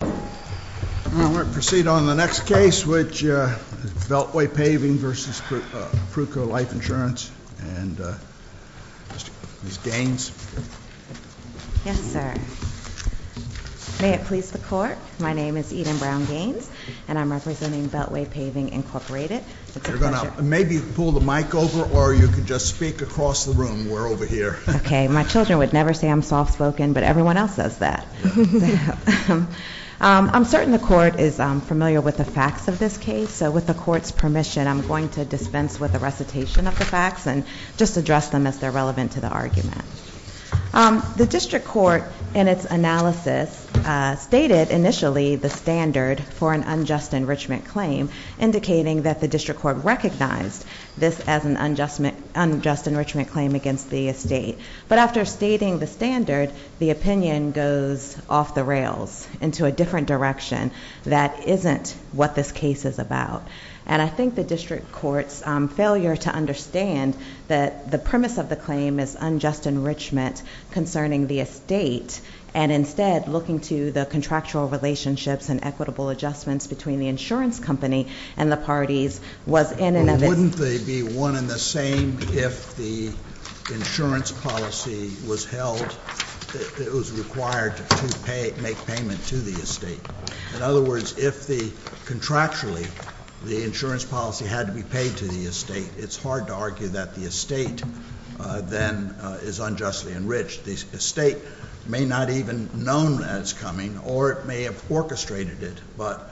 We're going to proceed on the next case, which is Beltway Paving v. Pruco Life Insurance, and Ms. Gaines. Yes, sir. May it please the Court, my name is Eden Brown Gaines, and I'm representing Beltway Paving, Incorporated. You're going to maybe pull the mic over, or you can just speak across the room. We're over here. Okay, my children would never say I'm soft-spoken, but everyone else says that. I'm certain the Court is familiar with the facts of this case, so with the Court's permission, I'm going to dispense with the recitation of the facts and just address them as they're relevant to the argument. The District Court, in its analysis, stated initially the standard for an unjust enrichment claim, indicating that the District Court recognized this as an unjust enrichment claim against the estate. But after stating the standard, the opinion goes off the rails into a different direction that isn't what this case is about. And I think the District Court's failure to understand that the premise of the claim is unjust enrichment concerning the estate, and instead looking to the contractual relationships and equitable adjustments between the insurance company and the parties was in and of itself. But wouldn't they be one and the same if the insurance policy was held that it was required to make payment to the estate? In other words, if contractually the insurance policy had to be paid to the estate, it's hard to argue that the estate then is unjustly enriched. The estate may not even have known that it's coming, or it may have orchestrated it. But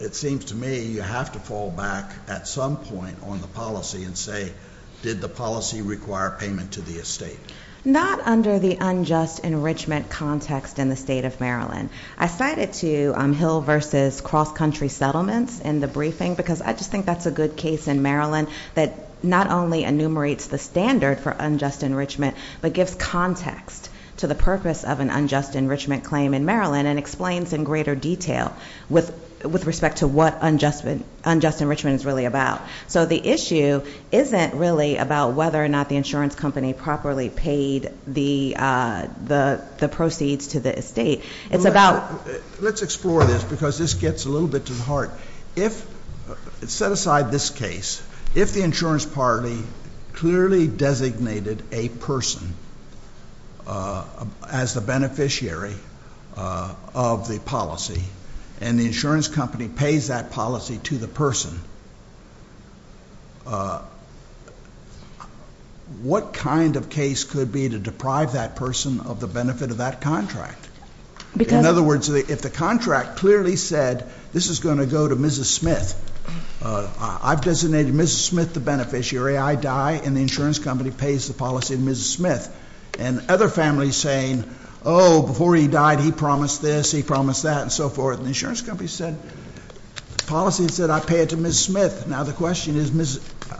it seems to me you have to fall back at some point on the policy and say, did the policy require payment to the estate? Not under the unjust enrichment context in the state of Maryland. I cited to Hill v. Cross Country Settlements in the briefing because I just think that's a good case in Maryland that not only enumerates the standard for unjust enrichment, but gives context to the purpose of an unjust enrichment claim in Maryland and explains in greater detail with respect to what unjust enrichment is really about. So the issue isn't really about whether or not the insurance company properly paid the proceeds to the estate. It's about- Let's explore this because this gets a little bit to the heart. If, set aside this case, if the insurance party clearly designated a person as the beneficiary of the policy, and the insurance company pays that policy to the person, what kind of case could be to deprive that person of the benefit of that contract? In other words, if the contract clearly said this is going to go to Mrs. Smith, I've designated Mrs. Smith the beneficiary, I die, and the insurance company pays the policy to Mrs. Smith. And other families saying, oh, before he died he promised this, he promised that, and so forth. And the insurance company said, the policy said I pay it to Mrs. Smith. Now the question is,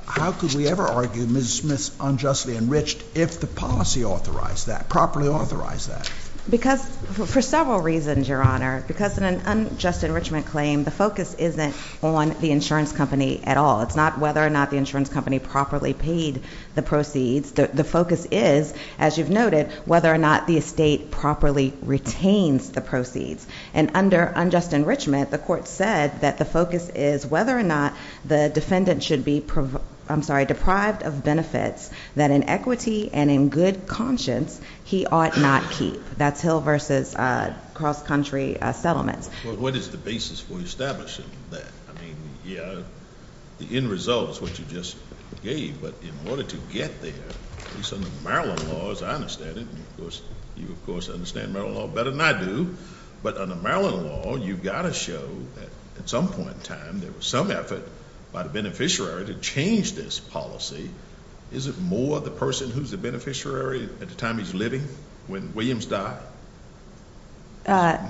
how could we ever argue Mrs. Smith's unjustly enriched if the policy authorized that, properly authorized that? For several reasons, Your Honor. Because in an unjust enrichment claim, the focus isn't on the insurance company at all. It's not whether or not the insurance company properly paid the proceeds. The focus is, as you've noted, whether or not the estate properly retains the proceeds. And under unjust enrichment, the court said that the focus is whether or not the defendant should be deprived of benefits that in equity and in good conscience he ought not keep. That's Hill versus cross-country settlements. Well, what is the basis for establishing that? I mean, yeah, the end result is what you just gave. But in order to get there, at least under Maryland law, as I understand it, and you, of course, understand Maryland law better than I do, but under Maryland law, you've got to show that at some point in time there was some effort by the beneficiary to change this policy. Is it more the person who's the beneficiary at the time he's living, when Williams died?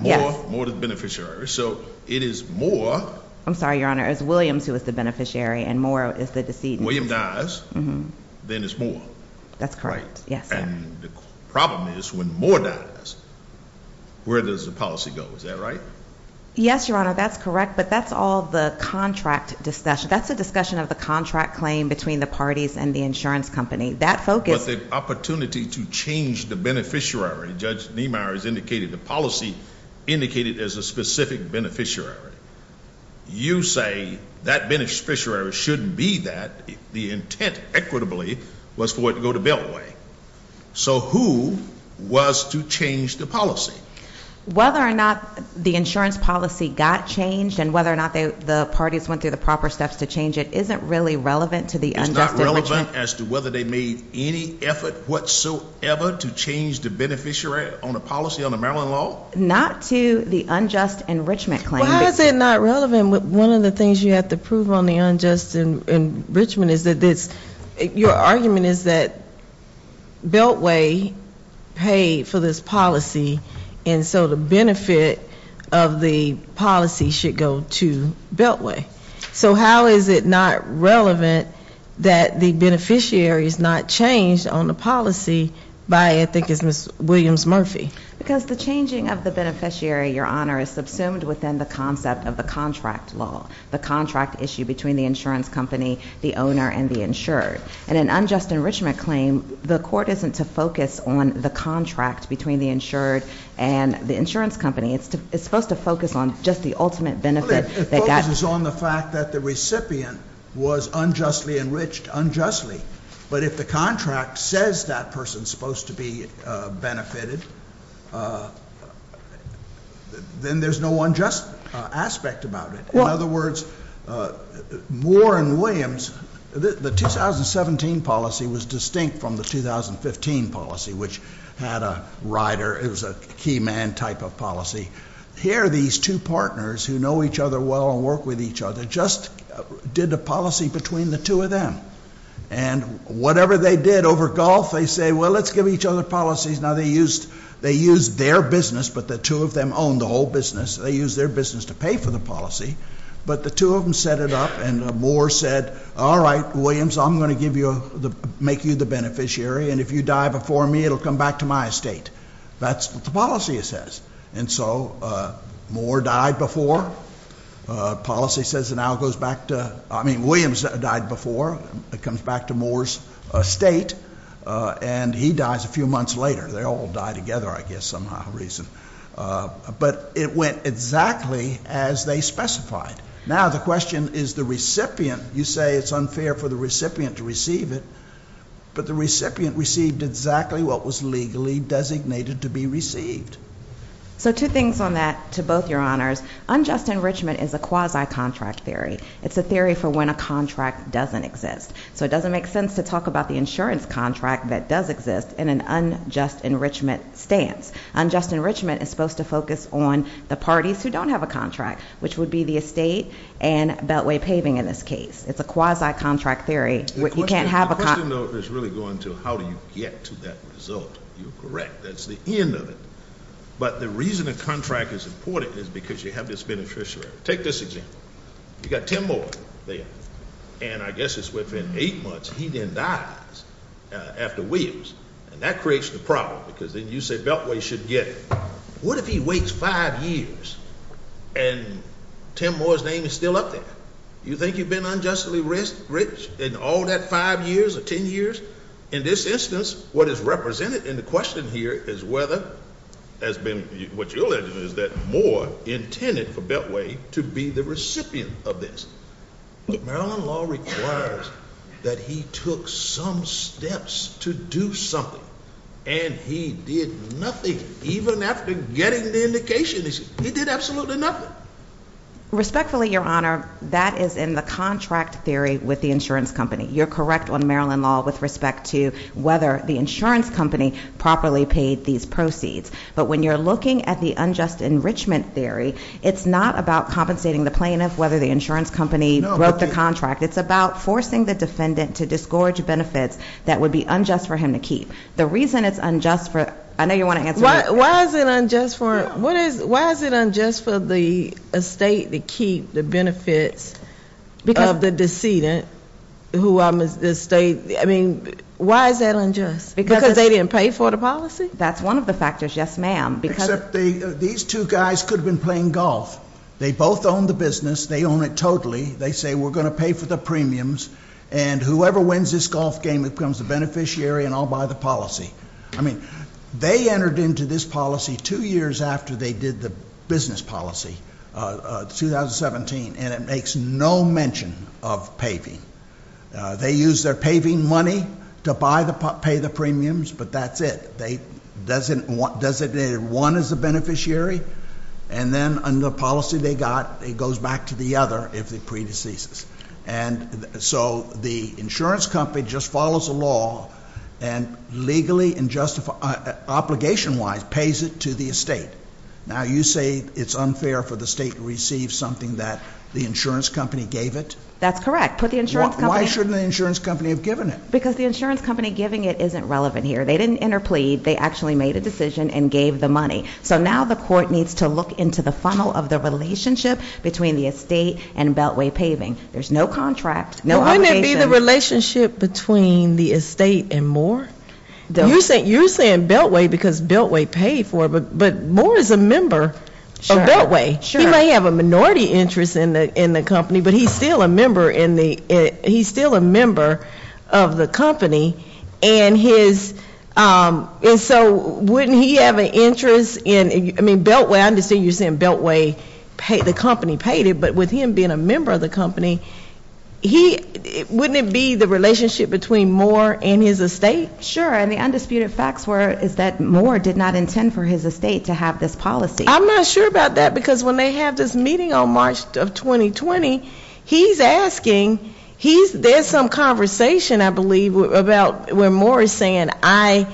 More to the beneficiary. So it is more. I'm sorry, Your Honor. It's Williams who is the beneficiary and more is the decedent. William dies. Then it's more. That's correct. Yes, sir. And the problem is when more dies, where does the policy go? Is that right? Yes, Your Honor, that's correct. But that's all the contract discussion. That's the discussion of the contract claim between the parties and the insurance company. But the opportunity to change the beneficiary, Judge Niemeyer has indicated, the policy indicated as a specific beneficiary. You say that beneficiary shouldn't be that. The intent, equitably, was for it to go to Belway. So who was to change the policy? Whether or not the insurance policy got changed and whether or not the parties went through the proper steps to change it isn't really relevant to the unjust enrichment. It's not relevant as to whether they made any effort whatsoever to change the beneficiary on a policy on the Maryland law? Not to the unjust enrichment claim. Well, how is it not relevant? One of the things you have to prove on the unjust enrichment is that your argument is that Belway paid for this policy, and so the benefit of the policy should go to Belway. So how is it not relevant that the beneficiary is not changed on the policy by, I think it's Ms. Williams Murphy? Because the changing of the beneficiary, Your Honor, is subsumed within the concept of the contract law, the contract issue between the insurance company, the owner, and the insured. In an unjust enrichment claim, the court isn't to focus on the contract between the insured and the insurance company. It's supposed to focus on just the ultimate benefit they got. It focuses on the fact that the recipient was unjustly enriched, unjustly. But if the contract says that person's supposed to be benefited, then there's no unjust aspect about it. In other words, Moore and Williams, the 2017 policy was distinct from the 2015 policy, which had a rider. It was a key man type of policy. Here are these two partners who know each other well and work with each other, just did the policy between the two of them. And whatever they did over golf, they say, well, let's give each other policies. Now, they used their business, but the two of them owned the whole business. They used their business to pay for the policy. But the two of them set it up, and Moore said, all right, Williams, I'm going to make you the beneficiary, and if you die before me, it will come back to my estate. That's what the policy says. And so Moore died before. Policy says it now goes back to, I mean, Williams died before. It comes back to Moore's estate. And he dies a few months later. They all die together, I guess, somehow or reason. But it went exactly as they specified. Now the question is the recipient. You say it's unfair for the recipient to receive it. But the recipient received exactly what was legally designated to be received. So two things on that to both your honors. Unjust enrichment is a quasi-contract theory. It's a theory for when a contract doesn't exist. So it doesn't make sense to talk about the insurance contract that does exist in an unjust enrichment stance. Unjust enrichment is supposed to focus on the parties who don't have a contract, which would be the estate and beltway paving in this case. It's a quasi-contract theory. You can't have a contract. The question, though, is really going to how do you get to that result. You're correct. That's the end of it. But the reason a contract is important is because you have this beneficiary. Take this example. You've got Tim Moore there. And I guess it's within eight months he then dies after Williams. And that creates the problem because then you say beltway should get it. What if he waits five years and Tim Moore's name is still up there? You think you've been unjustly enriched in all that five years or ten years? In this instance, what is represented in the question here is whether what you're alleging is that Moore intended for beltway to be the recipient of this. Maryland law requires that he took some steps to do something, and he did nothing even after getting the indication. He did absolutely nothing. Respectfully, Your Honor, that is in the contract theory with the insurance company. You're correct on Maryland law with respect to whether the insurance company properly paid these proceeds. But when you're looking at the unjust enrichment theory, it's not about compensating the plaintiff, whether the insurance company broke the contract. It's about forcing the defendant to disgorge benefits that would be unjust for him to keep. The reason it's unjust for them, I know you want to answer that. Why is it unjust for the estate to keep the benefits of the decedent? I mean, why is that unjust? Because they didn't pay for the policy? That's one of the factors, yes, ma'am. Except these two guys could have been playing golf. They both own the business. They own it totally. They say we're going to pay for the premiums, and whoever wins this golf game becomes the beneficiary and I'll buy the policy. I mean, they entered into this policy two years after they did the business policy, 2017, and it makes no mention of paving. They use their paving money to pay the premiums, but that's it. They designated one as the beneficiary, and then under the policy they got, it goes back to the other if it predeceases. And so the insurance company just follows the law and legally and obligation-wise pays it to the estate. Now you say it's unfair for the state to receive something that the insurance company gave it? That's correct. Why shouldn't the insurance company have given it? Because the insurance company giving it isn't relevant here. They didn't interplead. They actually made a decision and gave the money. So now the court needs to look into the funnel of the relationship between the estate and Beltway Paving. There's no contract, no obligation. But wouldn't it be the relationship between the estate and Moore? You're saying Beltway because Beltway paid for it, but Moore is a member of Beltway. Sure. He might have a minority interest in the company, but he's still a member of the company, and so wouldn't he have an interest in, I mean, Beltway, I understand you're saying Beltway, the company paid it, but with him being a member of the company, wouldn't it be the relationship between Moore and his estate? Sure, and the undisputed fact is that Moore did not intend for his estate to have this policy. I'm not sure about that because when they have this meeting on March of 2020, he's asking, there's some conversation, I believe, about where Moore is saying, I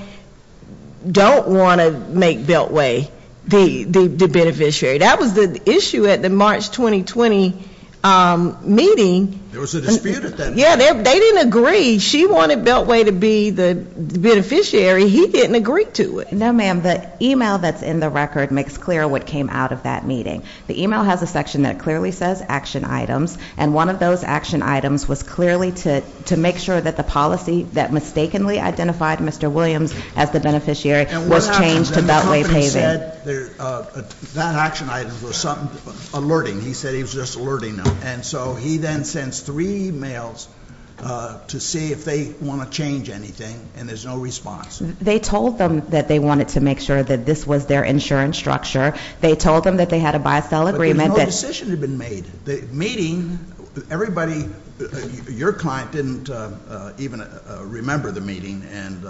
don't want to make Beltway the beneficiary. That was the issue at the March 2020 meeting. There was a dispute at that meeting. Yeah, they didn't agree. She wanted Beltway to be the beneficiary. He didn't agree to it. No, ma'am, the email that's in the record makes clear what came out of that meeting. The email has a section that clearly says action items, and one of those action items was clearly to make sure that the policy that mistakenly identified Mr. Williams as the beneficiary was changed to Beltway Paving. And what happened is that the company said that action item was something, alerting, he said he was just alerting them. And so he then sends three emails to see if they want to change anything, and there's no response. They told them that they wanted to make sure that this was their insurance structure. They told them that they had a buy-sell agreement. But no decision had been made. The meeting, everybody, your client didn't even remember the meeting and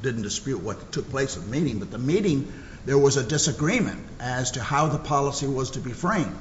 didn't dispute what took place at the meeting. But the meeting, there was a disagreement as to how the policy was to be framed.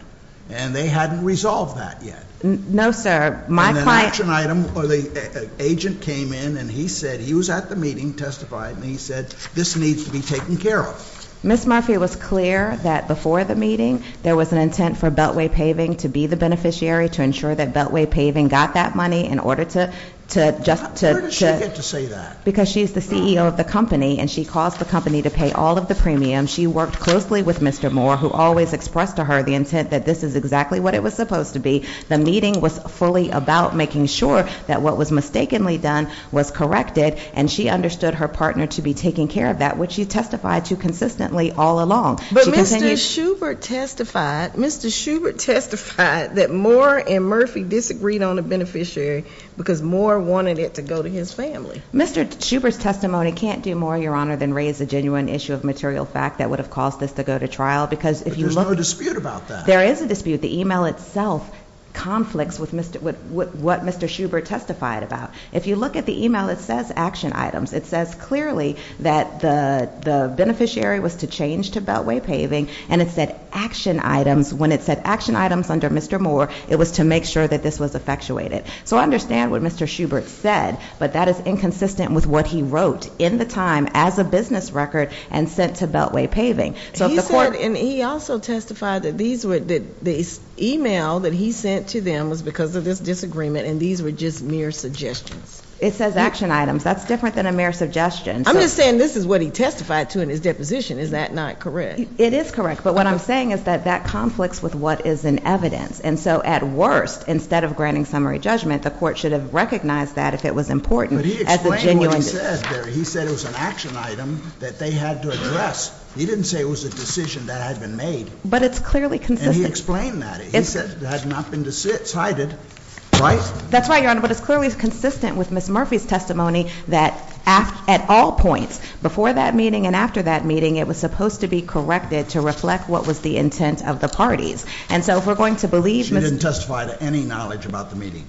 And they hadn't resolved that yet. No, sir. My client- And an action item, or the agent came in and he said, he was at the meeting, testified, and he said, this needs to be taken care of. Ms. Murphy was clear that before the meeting, there was an intent for Beltway Paving to be the beneficiary, to ensure that Beltway Paving got that money in order to- Where did she get to say that? Because she's the CEO of the company, and she calls the company to pay all of the premiums. She worked closely with Mr. Moore, who always expressed to her the intent that this is exactly what it was supposed to be. The meeting was fully about making sure that what was mistakenly done was corrected, and she understood her partner to be taking care of that, which she testified to consistently all along. But Mr. Schubert testified, Mr. Schubert testified that Moore and Murphy disagreed on a beneficiary, because Moore wanted it to go to his family. Mr. Schubert's testimony can't do more, Your Honor, than raise a genuine issue of material fact that would have caused this to go to trial, because if you look- But there's no dispute about that. There is a dispute. The email itself conflicts with what Mr. Schubert testified about. If you look at the email, it says action items. It says clearly that the beneficiary was to change to Beltway Paving, and it said action items. When it said action items under Mr. Moore, it was to make sure that this was effectuated. So I understand what Mr. Schubert said, but that is inconsistent with what he wrote in the time as a business record and sent to Beltway Paving. So if the court- He said, and he also testified that the email that he sent to them was because of this disagreement, and these were just mere suggestions. It says action items. That's different than a mere suggestion. I'm just saying this is what he testified to in his deposition. Is that not correct? It is correct. But what I'm saying is that that conflicts with what is in evidence. And so at worst, instead of granting summary judgment, the court should have recognized that if it was important as a genuine- But he explained what he said there. He said it was an action item that they had to address. He didn't say it was a decision that had been made. But it's clearly consistent. And he explained that. He said it had not been decided, right? That's right, Your Honor. But it's clearly consistent with Ms. Murphy's testimony that at all points, before that meeting and after that meeting, it was supposed to be corrected to reflect what was the intent of the parties. And so if we're going to believe- She didn't testify to any knowledge about the meeting.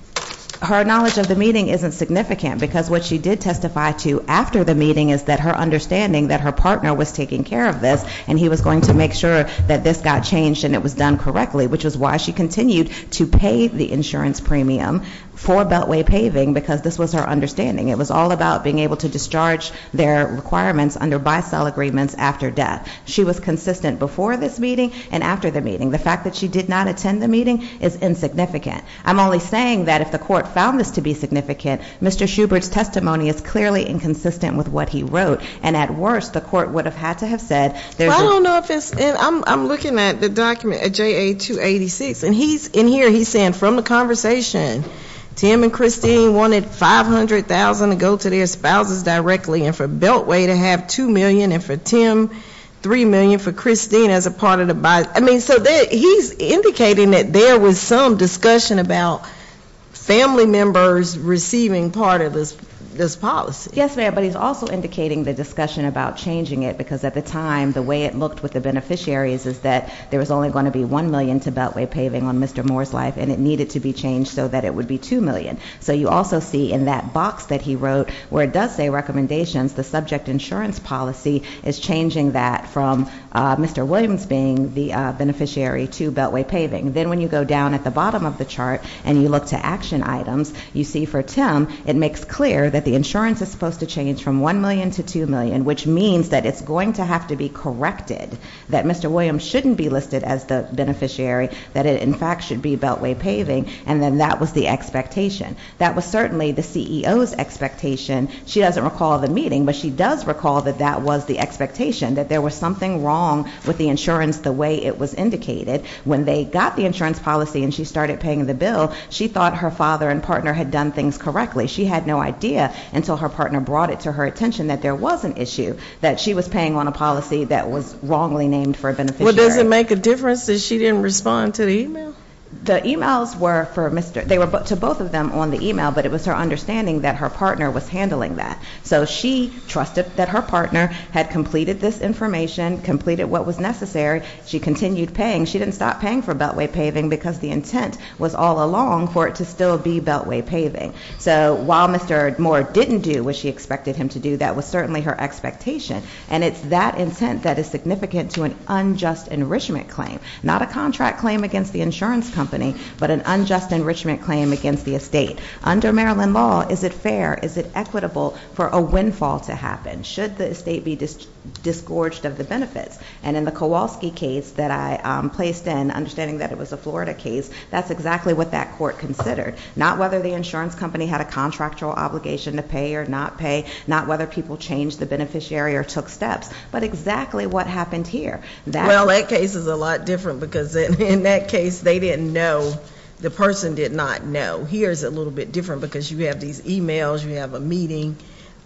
Her knowledge of the meeting isn't significant, because what she did testify to after the meeting is that her understanding that her partner was taking care of this. And he was going to make sure that this got changed and it was done correctly, which is why she continued to pay the insurance premium for Beltway Paving, because this was her understanding. It was all about being able to discharge their requirements under buy-sell agreements after death. She was consistent before this meeting and after the meeting. The fact that she did not attend the meeting is insignificant. I'm only saying that if the court found this to be significant, Mr. Schubert's testimony is clearly inconsistent with what he wrote. And at worst, the court would have had to have said- I don't know if it's- I'm looking at the document at JA-286, and in here he's saying from the conversation, Tim and Christine wanted $500,000 to go to their spouses directly and for Beltway to have $2 million, and for Tim $3 million, for Christine as a part of the- I mean, so he's indicating that there was some discussion about family members receiving part of this policy. Yes, ma'am, but he's also indicating the discussion about changing it, because at the time, the way it looked with the beneficiaries is that there was only going to be $1 million to Beltway Paving on Mr. Moore's life, and it needed to be changed so that it would be $2 million. So you also see in that box that he wrote where it does say recommendations, the subject insurance policy is changing that from Mr. Williams being the beneficiary to Beltway Paving. Then when you go down at the bottom of the chart and you look to action items, you see for Tim it makes clear that the insurance is supposed to change from $1 million to $2 million, which means that it's going to have to be corrected, that Mr. Williams shouldn't be listed as the beneficiary, that it in fact should be Beltway Paving, and then that was the expectation. That was certainly the CEO's expectation. She doesn't recall the meeting, but she does recall that that was the expectation, that there was something wrong with the insurance the way it was indicated. When they got the insurance policy and she started paying the bill, she thought her father and partner had done things correctly. She had no idea until her partner brought it to her attention that there was an issue, that she was paying on a policy that was wrongly named for a beneficiary. Well, does it make a difference that she didn't respond to the e-mail? The e-mails were to both of them on the e-mail, but it was her understanding that her partner was handling that. So she trusted that her partner had completed this information, completed what was necessary. She continued paying. She didn't stop paying for Beltway Paving because the intent was all along for it to still be Beltway Paving. So while Mr. Moore didn't do what she expected him to do, that was certainly her expectation, and it's that intent that is significant to an unjust enrichment claim, not a contract claim against the insurance company, but an unjust enrichment claim against the estate. Under Maryland law, is it fair, is it equitable for a windfall to happen, should the estate be disgorged of the benefits? And in the Kowalski case that I placed in, understanding that it was a Florida case, that's exactly what that court considered, not whether the insurance company had a contractual obligation to pay or not pay, not whether people changed the beneficiary or took steps, but exactly what happened here. Well, that case is a lot different because in that case they didn't know, the person did not know. Here it's a little bit different because you have these e-mails, you have a meeting.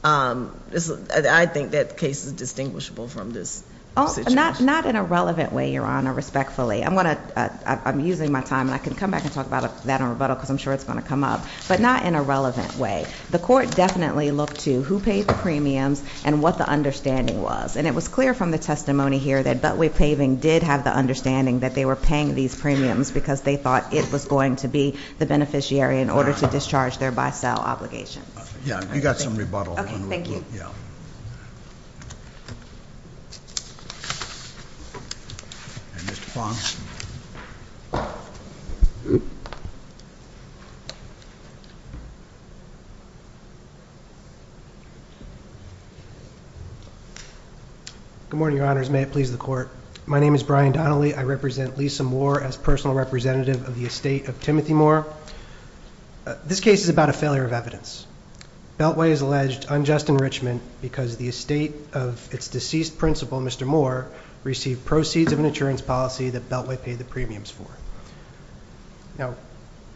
I think that case is distinguishable from this situation. Not in a relevant way, Your Honor, respectfully. I'm using my time, and I can come back and talk about that in rebuttal because I'm sure it's going to come up, but not in a relevant way. The court definitely looked to who paid the premiums and what the understanding was, and it was clear from the testimony here that Beltway Paving did have the understanding that they were paying these premiums because they thought it was going to be the beneficiary in order to discharge their buy-sell obligations. Yeah, you got some rebuttal. Okay, thank you. Good morning, Your Honors. May it please the Court. My name is Brian Donnelly. I represent Lisa Moore as personal representative of the estate of Timothy Moore. This case is about a failure of evidence. Beltway has alleged unjust enrichment because the estate of its deceased principal, Mr. Moore, received proceeds of an insurance policy that Beltway paid the premiums for. Now,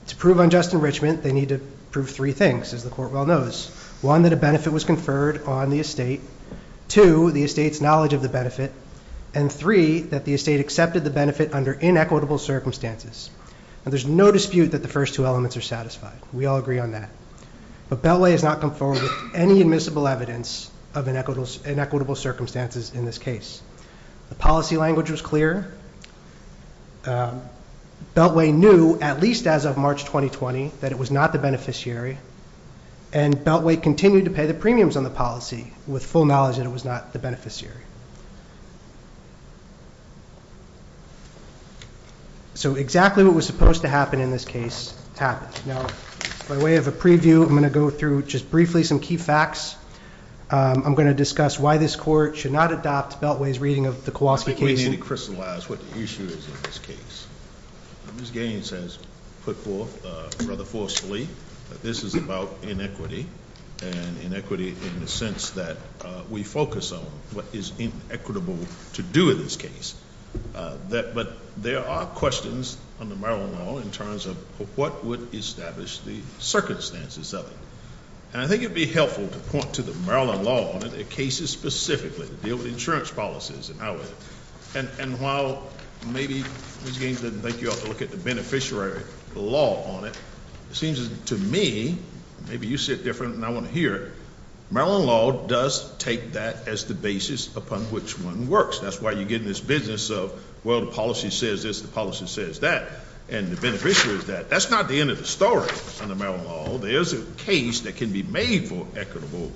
to prove unjust enrichment, they need to prove three things, as the Court well knows. One, that a benefit was conferred on the estate. Two, the estate's knowledge of the benefit. And three, that the estate accepted the benefit under inequitable circumstances. Now, there's no dispute that the first two elements are satisfied. We all agree on that. But Beltway has not come forward with any admissible evidence of inequitable circumstances in this case. The policy language was clear. Beltway knew, at least as of March 2020, that it was not the beneficiary, and Beltway continued to pay the premiums on the policy with full knowledge that it was not the beneficiary. So exactly what was supposed to happen in this case happened. Now, by way of a preview, I'm going to go through just briefly some key facts. I'm going to discuss why this Court should not adopt Beltway's reading of the Kowalski case. I think we need to crystallize what the issue is in this case. Ms. Gaines has put forth rather forcefully that this is about inequity, and inequity in the sense that we focus on what is inequitable to do in this case. But there are questions under Maryland law in terms of what would establish the circumstances of it. And I think it would be helpful to point to the Maryland law on it, the cases specifically to deal with insurance policies and how it, and while maybe Ms. Gaines didn't think you ought to look at the beneficiary law on it, it seems to me, maybe you see it different than I want to hear it, Maryland law does take that as the basis upon which one works. That's why you get in this business of, well, the policy says this, the policy says that, and the beneficiary is that. That's not the end of the story under Maryland law. There is a case that can be made for equitable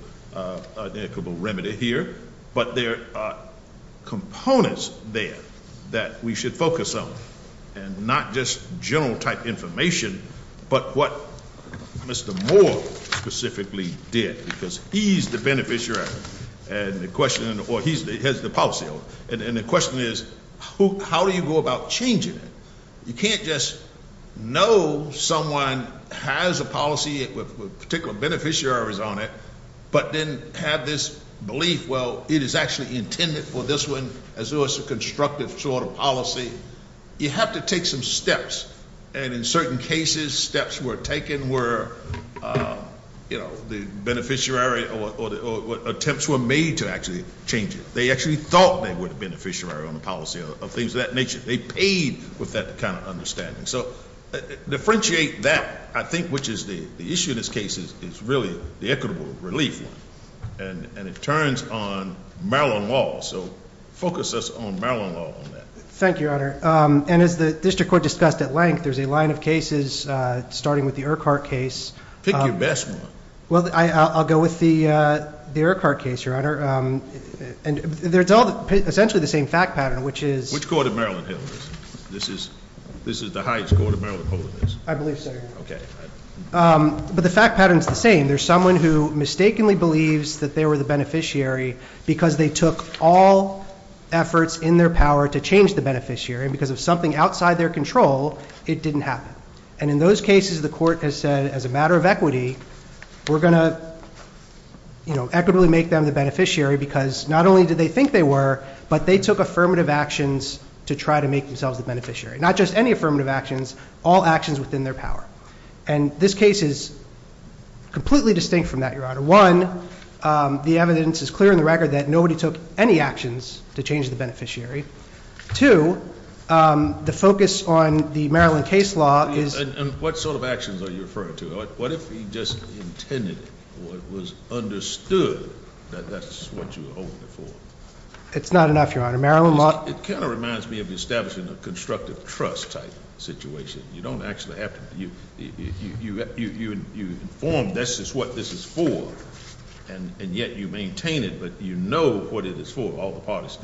remedy here, but there are components there that we should focus on, and not just general type information, but what Mr. Moore specifically did, because he's the beneficiary, and the question, or he has the policy, and the question is, how do you go about changing it? You can't just know someone has a policy with particular beneficiaries on it, but then have this belief, well, it is actually intended for this one, as though it's a constructive sort of policy. You have to take some steps, and in certain cases, steps were taken where, you know, the beneficiary or attempts were made to actually change it. They actually thought they were the beneficiary on the policy of things of that nature. They paid with that kind of understanding. So differentiate that, I think, which is the issue in this case is really the equitable relief one, and it turns on Maryland law, so focus us on Maryland law on that. Thank you, Your Honor, and as the district court discussed at length, there's a line of cases starting with the Urquhart case. Pick your best one. Well, I'll go with the Urquhart case, Your Honor, and it's all essentially the same fact pattern, which is – Which court of Maryland held this? This is the highest court of Maryland holding this? I believe so, Your Honor. Okay. But the fact pattern is the same. Again, there's someone who mistakenly believes that they were the beneficiary because they took all efforts in their power to change the beneficiary, and because of something outside their control, it didn't happen. And in those cases, the court has said, as a matter of equity, we're going to, you know, equitably make them the beneficiary because not only did they think they were, but they took affirmative actions to try to make themselves the beneficiary. Not just any affirmative actions, all actions within their power. And this case is completely distinct from that, Your Honor. One, the evidence is clear in the record that nobody took any actions to change the beneficiary. Two, the focus on the Maryland case law is – And what sort of actions are you referring to? What if he just intended it or it was understood that that's what you were holding it for? It's not enough, Your Honor. Maryland law – It kind of reminds me of establishing a constructive trust type situation. You don't actually have to – you inform this is what this is for, and yet you maintain it, but you know what it is for, all the parties.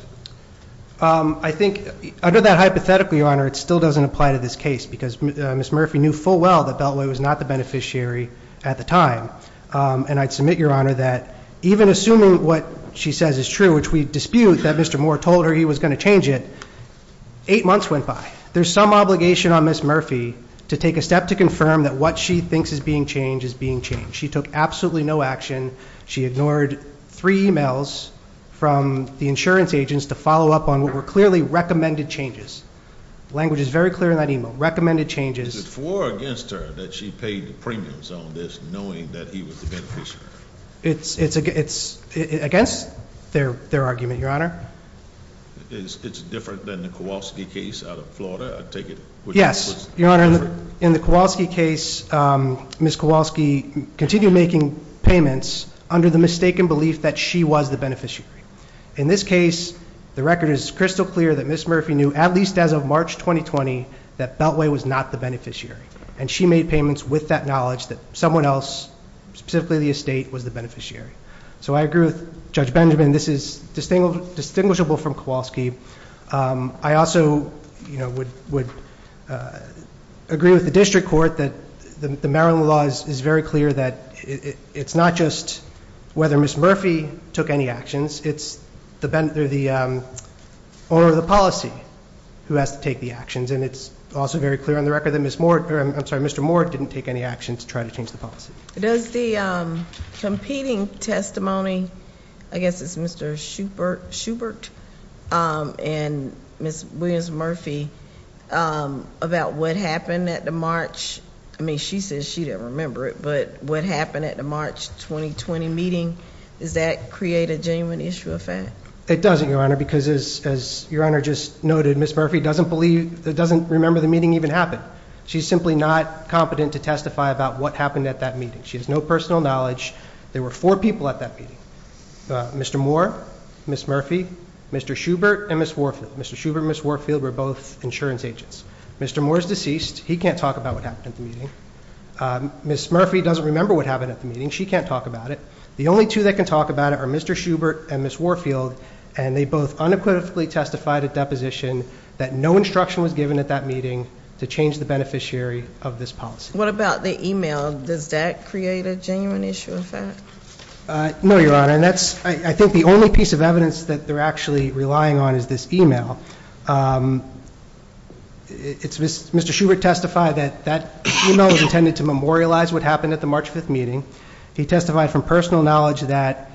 I think, under that hypothetical, Your Honor, it still doesn't apply to this case because Ms. Murphy knew full well that Beltway was not the beneficiary at the time. And I'd submit, Your Honor, that even assuming what she says is true, which we dispute that Mr. Moore told her he was going to change it, eight months went by. There's some obligation on Ms. Murphy to take a step to confirm that what she thinks is being changed is being changed. She took absolutely no action. She ignored three emails from the insurance agents to follow up on what were clearly recommended changes. Language is very clear in that email. Recommended changes. Is it for or against her that she paid the premiums on this, knowing that he was the beneficiary? It's against their argument, Your Honor. It's different than the Kowalski case out of Florida, I take it? Yes, Your Honor. In the Kowalski case, Ms. Kowalski continued making payments under the mistaken belief that she was the beneficiary. In this case, the record is crystal clear that Ms. Murphy knew, at least as of March 2020, that Beltway was not the beneficiary, and she made payments with that knowledge that someone else, specifically the estate, was the beneficiary. So I agree with Judge Benjamin. This is distinguishable from Kowalski. I also would agree with the district court that the Maryland law is very clear that it's not just whether Ms. Murphy took any actions, it's the policy who has to take the actions. And it's also very clear on the record that Mr. Moore didn't take any actions to try to change the policy. Does the competing testimony, I guess it's Mr. Schubert and Ms. Williams-Murphy, about what happened at the March, I mean, she says she didn't remember it, but what happened at the March 2020 meeting, does that create a genuine issue of fact? It doesn't, Your Honor, because as Your Honor just noted, Ms. Murphy doesn't remember the meeting even happened. She's simply not competent to testify about what happened at that meeting. She has no personal knowledge. There were four people at that meeting. Mr. Moore, Ms. Murphy, Mr. Schubert, and Ms. Warfield. Mr. Schubert and Ms. Warfield were both insurance agents. Mr. Moore is deceased. He can't talk about what happened at the meeting. Ms. Murphy doesn't remember what happened at the meeting. She can't talk about it. The only two that can talk about it are Mr. Schubert and Ms. Warfield, and they both unequivocally testified at deposition that no instruction was given at that meeting to change the beneficiary of this policy. What about the e-mail? Does that create a genuine issue of fact? No, Your Honor, and that's, I think, the only piece of evidence that they're actually relying on is this e-mail. Mr. Schubert testified that that e-mail was intended to memorialize what happened at the March 5th meeting. He testified from personal knowledge that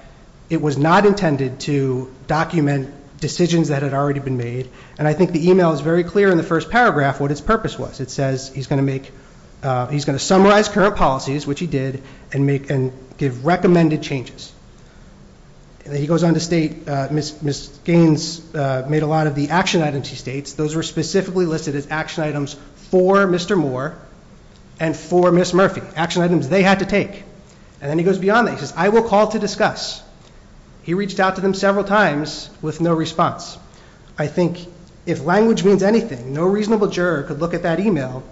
it was not intended to document decisions that had already been made, and I think the e-mail is very clear in the first paragraph what its purpose was. It says he's going to summarize current policies, which he did, and give recommended changes. He goes on to state Ms. Gaines made a lot of the action items, he states. Those were specifically listed as action items for Mr. Moore and for Ms. Murphy, action items they had to take. And then he goes beyond that. He says, I will call to discuss. He reached out to them several times with no response. I think if language means anything, no reasonable juror could look at that e-mail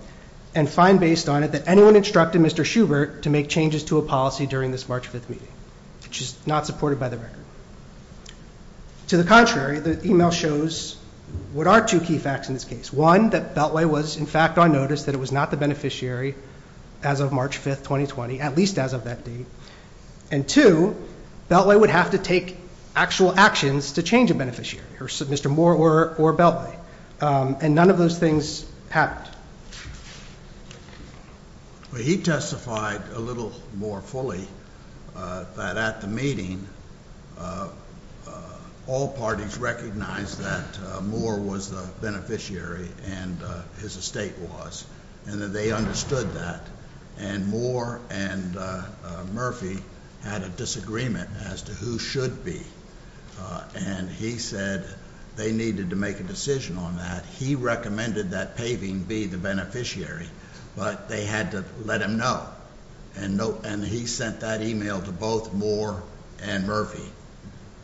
and find based on it that anyone instructed Mr. Schubert to make changes to a policy during this March 5th meeting, which is not supported by the record. To the contrary, the e-mail shows what are two key facts in this case. One, that Beltway was, in fact, on notice that it was not the beneficiary as of March 5th, 2020, at least as of that date. And two, Beltway would have to take actual actions to change a beneficiary, Mr. Moore or Beltway. And none of those things happened. He testified a little more fully that at the meeting, all parties recognized that Moore was the beneficiary and his estate was. And that they understood that. And Moore and Murphy had a disagreement as to who should be. And he said they needed to make a decision on that. He recommended that Paving be the beneficiary, but they had to let him know. And he sent that e-mail to both Moore and Murphy.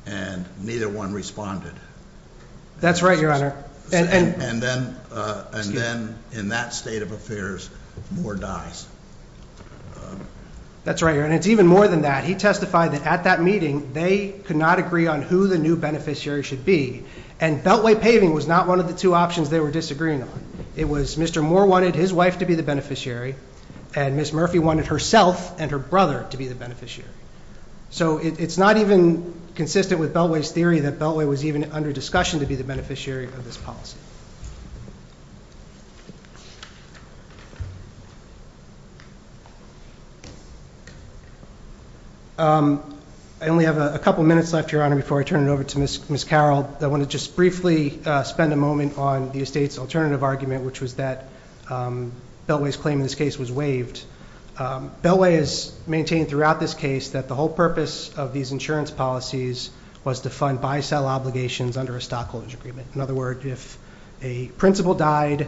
And neither one responded. That's right, Your Honor. And then in that state of affairs, Moore dies. That's right, Your Honor. And it's even more than that. He testified that at that meeting, they could not agree on who the new beneficiary should be. And Beltway Paving was not one of the two options they were disagreeing on. It was Mr. Moore wanted his wife to be the beneficiary, and Ms. Murphy wanted herself and her brother to be the beneficiary. So it's not even consistent with Beltway's theory that Beltway was even under discussion to be the beneficiary of this policy. I only have a couple minutes left, Your Honor, before I turn it over to Ms. Carroll. I want to just briefly spend a moment on the estate's alternative argument, which was that Beltway's claim in this case was waived. Beltway has maintained throughout this case that the whole purpose of these insurance policies was to fund buy-sell obligations under a stockholders' agreement. In other words, if a principal died,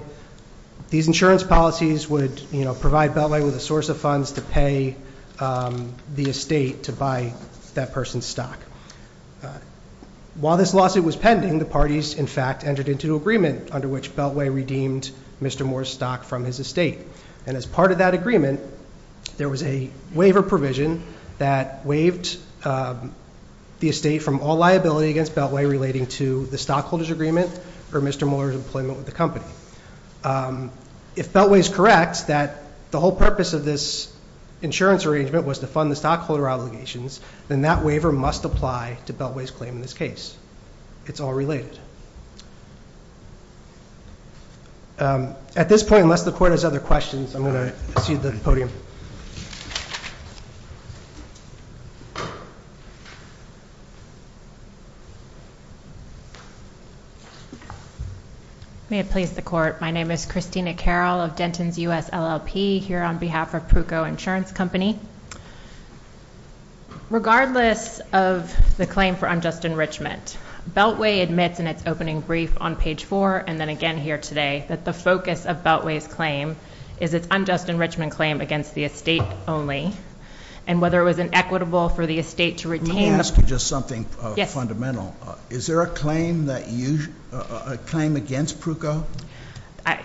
these insurance policies would provide Beltway with a source of funds to pay the estate to buy that person's stock. While this lawsuit was pending, the parties, in fact, entered into an agreement under which Beltway redeemed Mr. Moore's stock from his estate. And as part of that agreement, there was a waiver provision that waived the estate from all liability against Beltway relating to the stockholders' agreement or Mr. Moore's employment with the company. If Beltway is correct that the whole purpose of this insurance arrangement was to fund the stockholder obligations, then that waiver must apply to Beltway's claim in this case. It's all related. At this point, unless the Court has other questions, I'm going to cede the podium. May it please the Court. My name is Christina Carroll of Denton's U.S. LLP, here on behalf of Pruco Insurance Company. Regardless of the claim for unjust enrichment, Beltway admits in its opening brief on page 4, and then again here today, that the focus of Beltway's claim is its unjust enrichment claim against the estate only. And whether it was inequitable for the estate to retain- Let me ask you just something fundamental. Is there a claim against Pruco?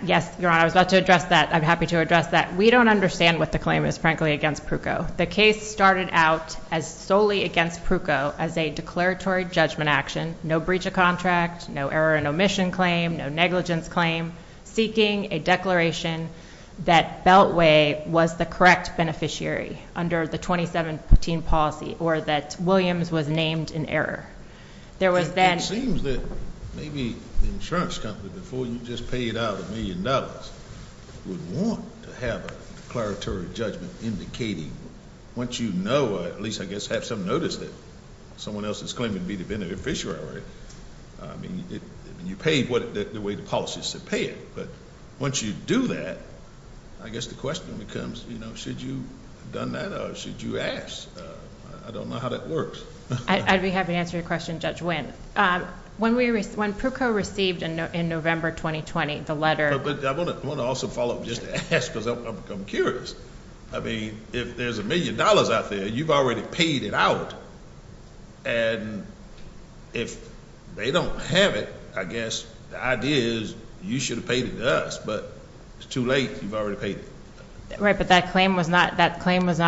Yes, Your Honor. I was about to address that. I'm happy to address that. We don't understand what the claim is, frankly, against Pruco. The case started out as solely against Pruco as a declaratory judgment action, no breach of contract, no error in omission claim, no negligence claim, seeking a declaration that Beltway was the correct beneficiary under the 2017 policy or that Williams was named in error. There was then- You would want to have a declaratory judgment indicating, once you know, at least I guess have some notice that someone else is claiming to be the beneficiary. I mean, you paid the way the policy said pay it. But once you do that, I guess the question becomes, you know, should you have done that or should you ask? I don't know how that works. I'd be happy to answer your question, Judge Winn. When Pruco received in November 2020 the letter- I want to also follow up just to ask because I've become curious. I mean, if there's a million dollars out there, you've already paid it out. And if they don't have it, I guess the idea is you should have paid it to us, but it's too late. You've already paid it. Right, but that claim was not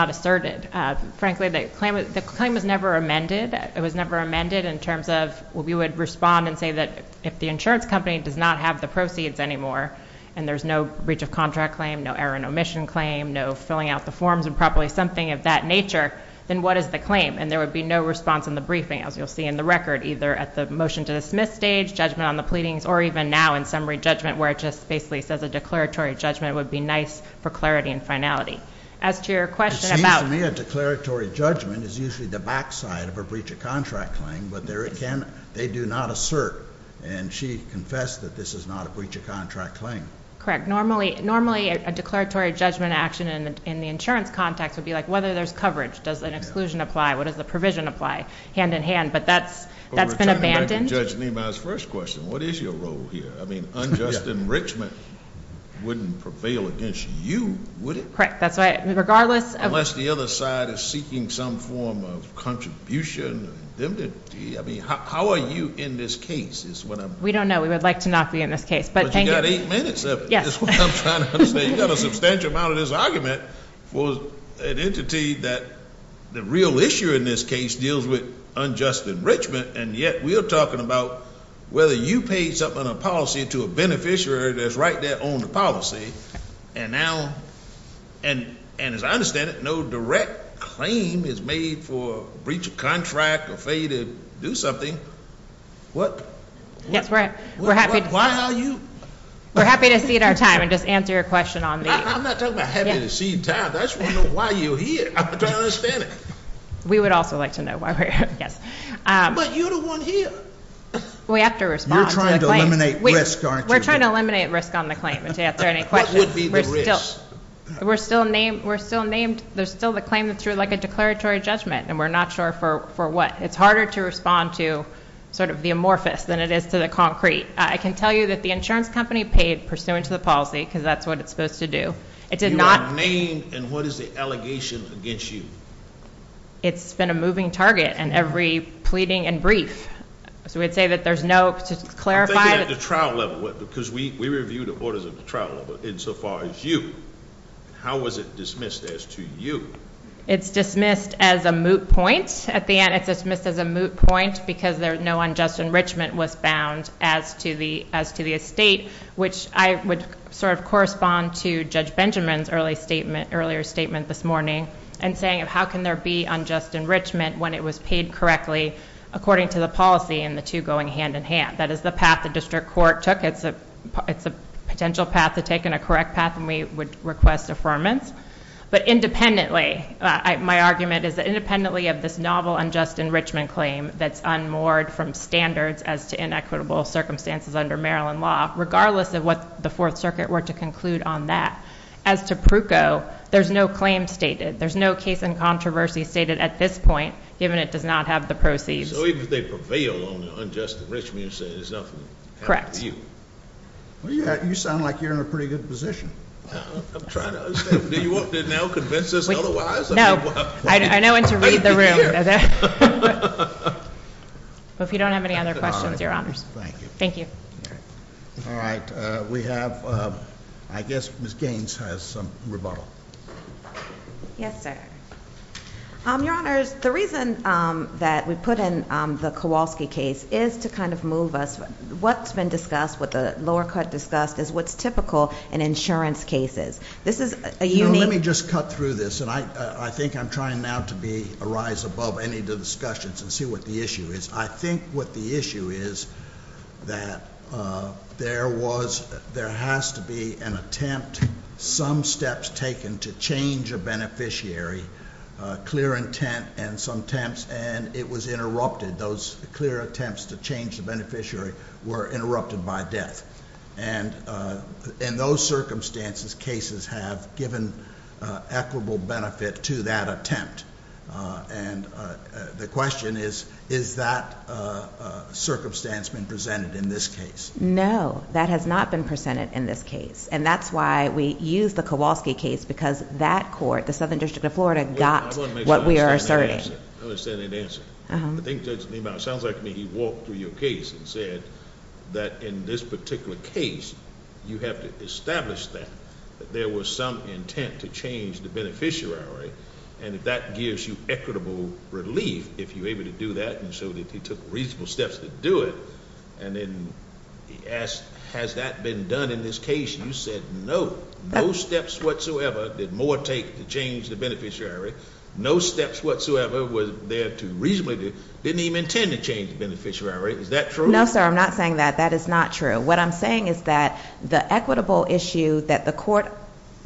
asserted. Frankly, the claim was never amended. It was never amended in terms of we would respond and say that if the insurance company does not have the proceeds anymore, and there's no breach of contract claim, no error in omission claim, no filling out the forms improperly, something of that nature, then what is the claim? And there would be no response in the briefing, as you'll see in the record, either at the motion to dismiss stage, judgment on the pleadings, or even now in summary judgment where it just basically says a declaratory judgment would be nice for clarity and finality. As to your question about- It seems to me a declaratory judgment is usually the backside of a breach of contract claim, but there again, they do not assert. And she confessed that this is not a breach of contract claim. Correct. Normally, a declaratory judgment action in the insurance context would be like whether there's coverage, does an exclusion apply, what does the provision apply, hand in hand, but that's been abandoned. But returning back to Judge Niemeyer's first question, what is your role here? I mean, unjust enrichment wouldn't prevail against you, would it? Correct. That's right. Regardless of- Unless the other side is seeking some form of contribution, how are you in this case? We don't know. We would like to not be in this case. But you've got eight minutes of it. Yes. That's what I'm trying to say. You've got a substantial amount of this argument for an entity that the real issue in this case deals with unjust enrichment, and yet we are talking about whether you paid something on a policy to a beneficiary that's right there on the policy, and now, and as I understand it, no direct claim is made for breach of contract or failure to do something. What? Yes, we're happy- Why are you- We're happy to cede our time and just answer your question on the- I'm not talking about happy to cede time. I just want to know why you're here. I'm trying to understand it. We would also like to know why we're here, yes. But you're the one here. We have to respond to the claim. You're trying to eliminate risk, aren't you? We're trying to eliminate risk on the claim and to answer any questions. What would be the risk? We're still named. There's still the claim that's like a declaratory judgment, and we're not sure for what. It's harder to respond to sort of the amorphous than it is to the concrete. I can tell you that the insurance company paid pursuant to the policy because that's what it's supposed to do. It did not- You are named, and what is the allegation against you? It's been a moving target in every pleading and brief. So we'd say that there's no- I think at the trial level, because we reviewed the orders at the trial level insofar as you. How was it dismissed as to you? It's dismissed as a moot point. At the end, it's dismissed as a moot point because no unjust enrichment was bound as to the estate, which I would sort of correspond to Judge Benjamin's earlier statement this morning in saying how can there be unjust enrichment when it was paid correctly according to the policy and the two going hand in hand? That is the path the district court took. It's a potential path to take and a correct path, and we would request affirmance. But independently, my argument is that independently of this novel unjust enrichment claim that's unmoored from standards as to inequitable circumstances under Maryland law, regardless of what the Fourth Circuit were to conclude on that, as to Pruko, there's no claim stated. There's no case in controversy stated at this point, given it does not have the proceeds. So even if they prevailed on the unjust enrichment, you're saying there's nothing? Correct. Well, you sound like you're in a pretty good position. I'm trying to understand. Do you want to now convince us otherwise? No. I know when to leave the room. If you don't have any other questions, Your Honors. Thank you. Thank you. All right. We have, I guess Ms. Gaines has some rebuttal. Yes, sir. Your Honors, the reason that we put in the Kowalski case is to kind of move us. What's been discussed, what the lower cut discussed, is what's typical in insurance cases. This is a unique— Let me just cut through this, and I think I'm trying now to arise above any of the discussions and see what the issue is. I think what the issue is that there has to be an attempt, some steps taken to change a beneficiary, clear intent and some attempts, and it was interrupted. Those clear attempts to change the beneficiary were interrupted by death. And in those circumstances, cases have given equitable benefit to that attempt. The question is, is that circumstance been presented in this case? No, that has not been presented in this case. And that's why we use the Kowalski case because that court, the Southern District of Florida, got what we are asserting. I understand that answer. I think Judge Niemeyer, it sounds like to me he walked through your case and said that in this particular case, you have to establish that there was some intent to change the beneficiary. And that gives you equitable relief if you're able to do that, and so he took reasonable steps to do it. And then he asked, has that been done in this case? You said no. No steps whatsoever did Moore take to change the beneficiary. No steps whatsoever was there to reasonably do—didn't even intend to change the beneficiary. Is that true? No, sir, I'm not saying that. That is not true. What I'm saying is that the equitable issue that the court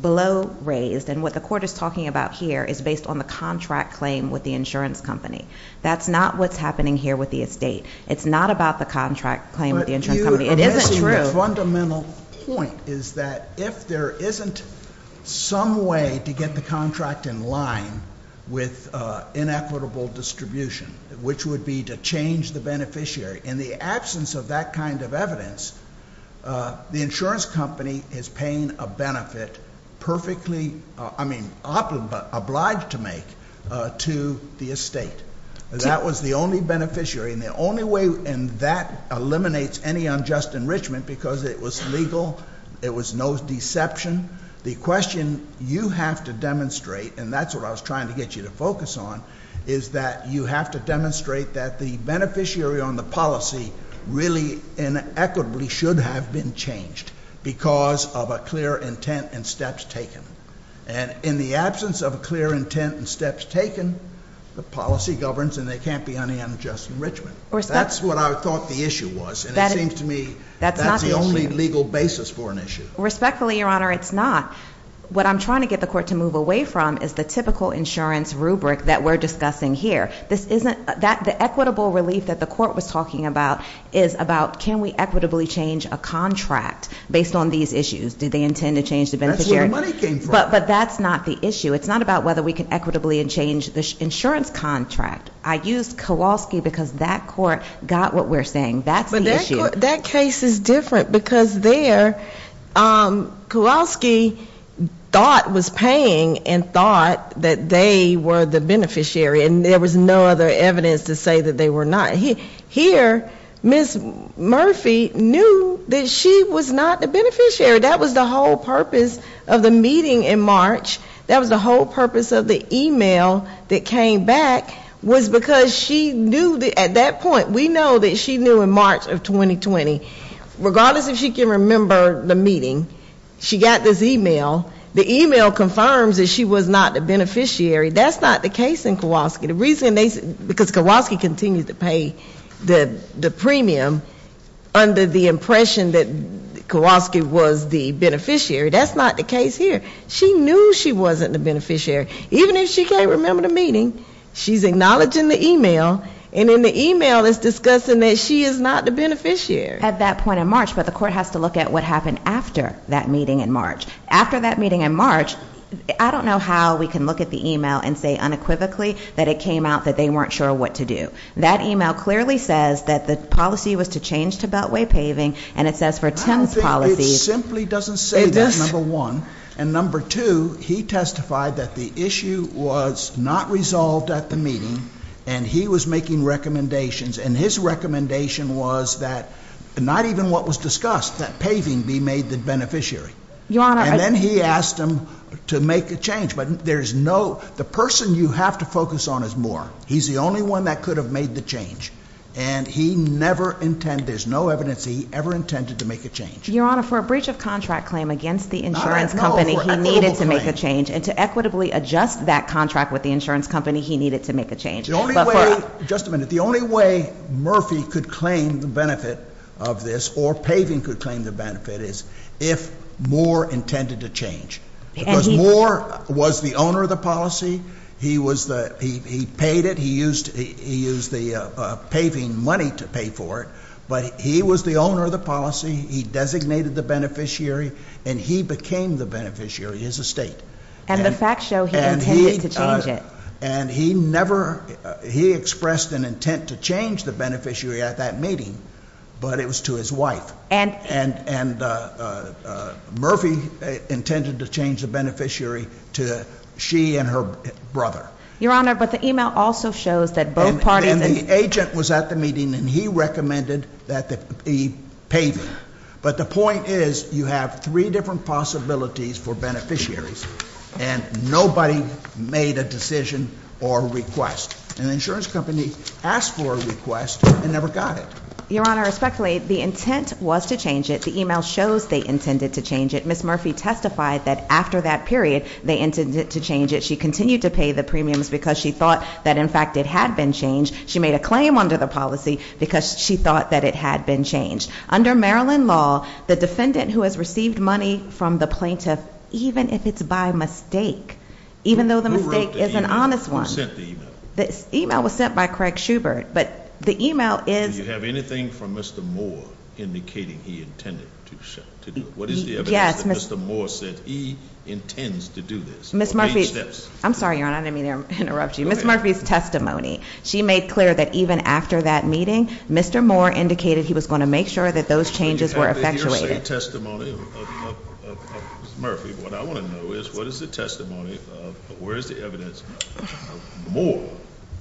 below raised and what the court is talking about here is based on the contract claim with the insurance company. That's not what's happening here with the estate. It's not about the contract claim with the insurance company. It isn't true. But you are missing the fundamental point, is that if there isn't some way to get the contract in line with inequitable distribution, which would be to change the beneficiary, in the absence of that kind of evidence, the insurance company is paying a benefit perfectly—I mean, obliged to make to the estate. That was the only beneficiary, and the only way—and that eliminates any unjust enrichment because it was legal. It was no deception. The question you have to demonstrate, and that's what I was trying to get you to focus on, is that you have to demonstrate that the beneficiary on the policy really and equitably should have been changed because of a clear intent and steps taken. And in the absence of a clear intent and steps taken, the policy governs and there can't be any unjust enrichment. That's what I thought the issue was, and it seems to me that's the only legal basis for an issue. Respectfully, Your Honor, it's not. What I'm trying to get the court to move away from is the typical insurance rubric that we're discussing here. The equitable relief that the court was talking about is about can we equitably change a contract based on these issues? Do they intend to change the beneficiary? That's where the money came from. But that's not the issue. It's not about whether we can equitably change the insurance contract. I used Kowalski because that court got what we're saying. That's the issue. That case is different because there Kowalski thought was paying and thought that they were the beneficiary, and there was no other evidence to say that they were not. Here, Ms. Murphy knew that she was not the beneficiary. That was the whole purpose of the meeting in March. That was the whole purpose of the e-mail that came back was because she knew at that point, we know that she knew in March of 2020, regardless if she can remember the meeting, she got this e-mail. The e-mail confirms that she was not the beneficiary. That's not the case in Kowalski. The reason they, because Kowalski continued to pay the premium under the impression that Kowalski was the beneficiary. That's not the case here. She knew she wasn't the beneficiary. Even if she can't remember the meeting, she's acknowledging the e-mail, and in the e-mail it's discussing that she is not the beneficiary. At that point in March, but the court has to look at what happened after that meeting in March. After that meeting in March, I don't know how we can look at the e-mail and say unequivocally that it came out that they weren't sure what to do. That e-mail clearly says that the policy was to change to beltway paving, and it says for Tim's policy- Number two, he testified that the issue was not resolved at the meeting, and he was making recommendations, and his recommendation was that not even what was discussed, that paving be made the beneficiary. Your Honor- And then he asked them to make a change, but there's no, the person you have to focus on is Moore. He's the only one that could have made the change, and he never intended, there's no evidence he ever intended to make a change. Your Honor, for a breach of contract claim against the insurance company- He never needed to make a change, and to equitably adjust that contract with the insurance company, he needed to make a change. But for- The only way, just a minute, the only way Murphy could claim the benefit of this, or paving could claim the benefit, is if Moore intended to change. Because Moore was the owner of the policy. He was the, he paid it. He used the paving money to pay for it, but he was the owner of the policy. He designated the beneficiary, and he became the beneficiary, his estate. And the facts show he intended to change it. And he never, he expressed an intent to change the beneficiary at that meeting, but it was to his wife. And- And Murphy intended to change the beneficiary to she and her brother. Your Honor, but the email also shows that both parties- The agent was at the meeting, and he recommended that he pave it. But the point is, you have three different possibilities for beneficiaries, and nobody made a decision or request. And the insurance company asked for a request, and never got it. Your Honor, respectfully, the intent was to change it. The email shows they intended to change it. Ms. Murphy testified that after that period, they intended to change it. And she continued to pay the premiums because she thought that, in fact, it had been changed. She made a claim under the policy because she thought that it had been changed. Under Maryland law, the defendant who has received money from the plaintiff, even if it's by mistake, even though the mistake is an honest one- Who sent the email? The email was sent by Craig Schubert, but the email is- Do you have anything from Mr. Moore indicating he intended to do it? Yes. What is the evidence that Mr. Moore said he intends to do this? Ms. Murphy- I'm sorry, Your Honor, I didn't mean to interrupt you. Ms. Murphy's testimony. She made clear that even after that meeting, Mr. Moore indicated he was going to make sure that those changes were effectuated. Do you have the hearsay testimony of Ms. Murphy? What I want to know is, what is the testimony of, where is the evidence of Moore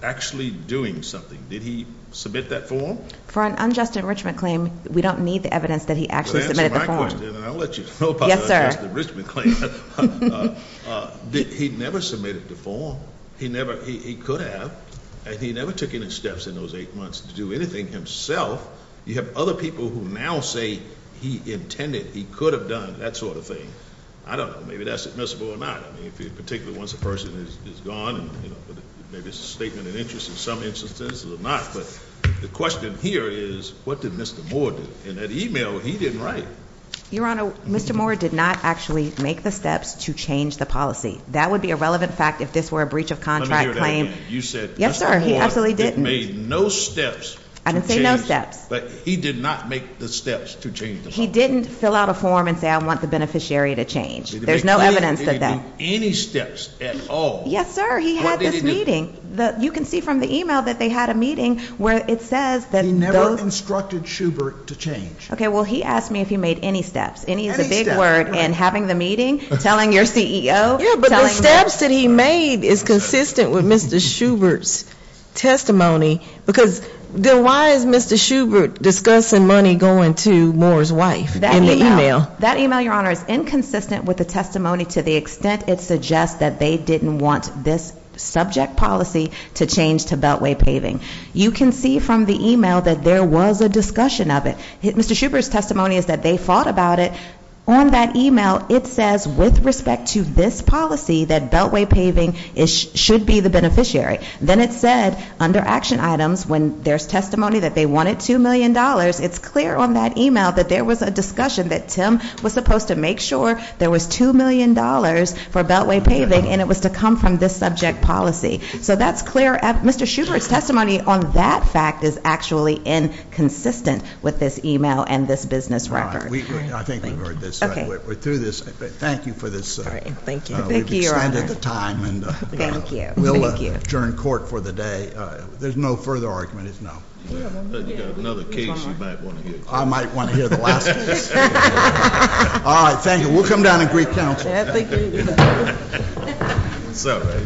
actually doing something? Did he submit that form? For an unjust enrichment claim, we don't need the evidence that he actually submitted the form. Yes, sir. He never submitted the form. He could have, and he never took any steps in those eight months to do anything himself. You have other people who now say he intended, he could have done that sort of thing. I don't know. Maybe that's admissible or not. Particularly once a person is gone, maybe it's a statement of interest in some instances or not. But the question here is, what did Mr. Moore do? In that email, he didn't write. Your Honor, Mr. Moore did not actually make the steps to change the policy. That would be a relevant fact if this were a breach of contract claim. Let me hear that again. You said Mr. Moore made no steps to change the policy. I didn't say no steps. But he did not make the steps to change the policy. He didn't fill out a form and say, I want the beneficiary to change. There's no evidence of that. He didn't make any steps at all. Yes, sir. He had this meeting. What did he do? You can see from the email that they had a meeting where it says that those I instructed Schubert to change. Okay, well, he asked me if he made any steps. Any is a big word. And having the meeting, telling your CEO. Yeah, but the steps that he made is consistent with Mr. Schubert's testimony. Because then why is Mr. Schubert discussing money going to Moore's wife in the email? That email, Your Honor, is inconsistent with the testimony to the extent it suggests that they didn't want this subject policy to change to beltway paving. You can see from the email that there was a discussion of it. Mr. Schubert's testimony is that they fought about it. On that email, it says, with respect to this policy, that beltway paving should be the beneficiary. Then it said, under action items, when there's testimony that they wanted $2 million, it's clear on that email that there was a discussion that Tim was supposed to make sure there was $2 million for beltway paving, and it was to come from this subject policy. So that's clear. Mr. Schubert's testimony on that fact is actually inconsistent with this email and this business record. I think we've heard this. Okay. We're through this. Thank you for this. All right. Thank you. Thank you, Your Honor. We've extended the time. Thank you. We'll adjourn court for the day. There's no further arguments. No. You've got another case you might want to hear. I might want to hear the last case. All right. Thank you. We'll come down and greet counsel. Thank you. What's up, everybody?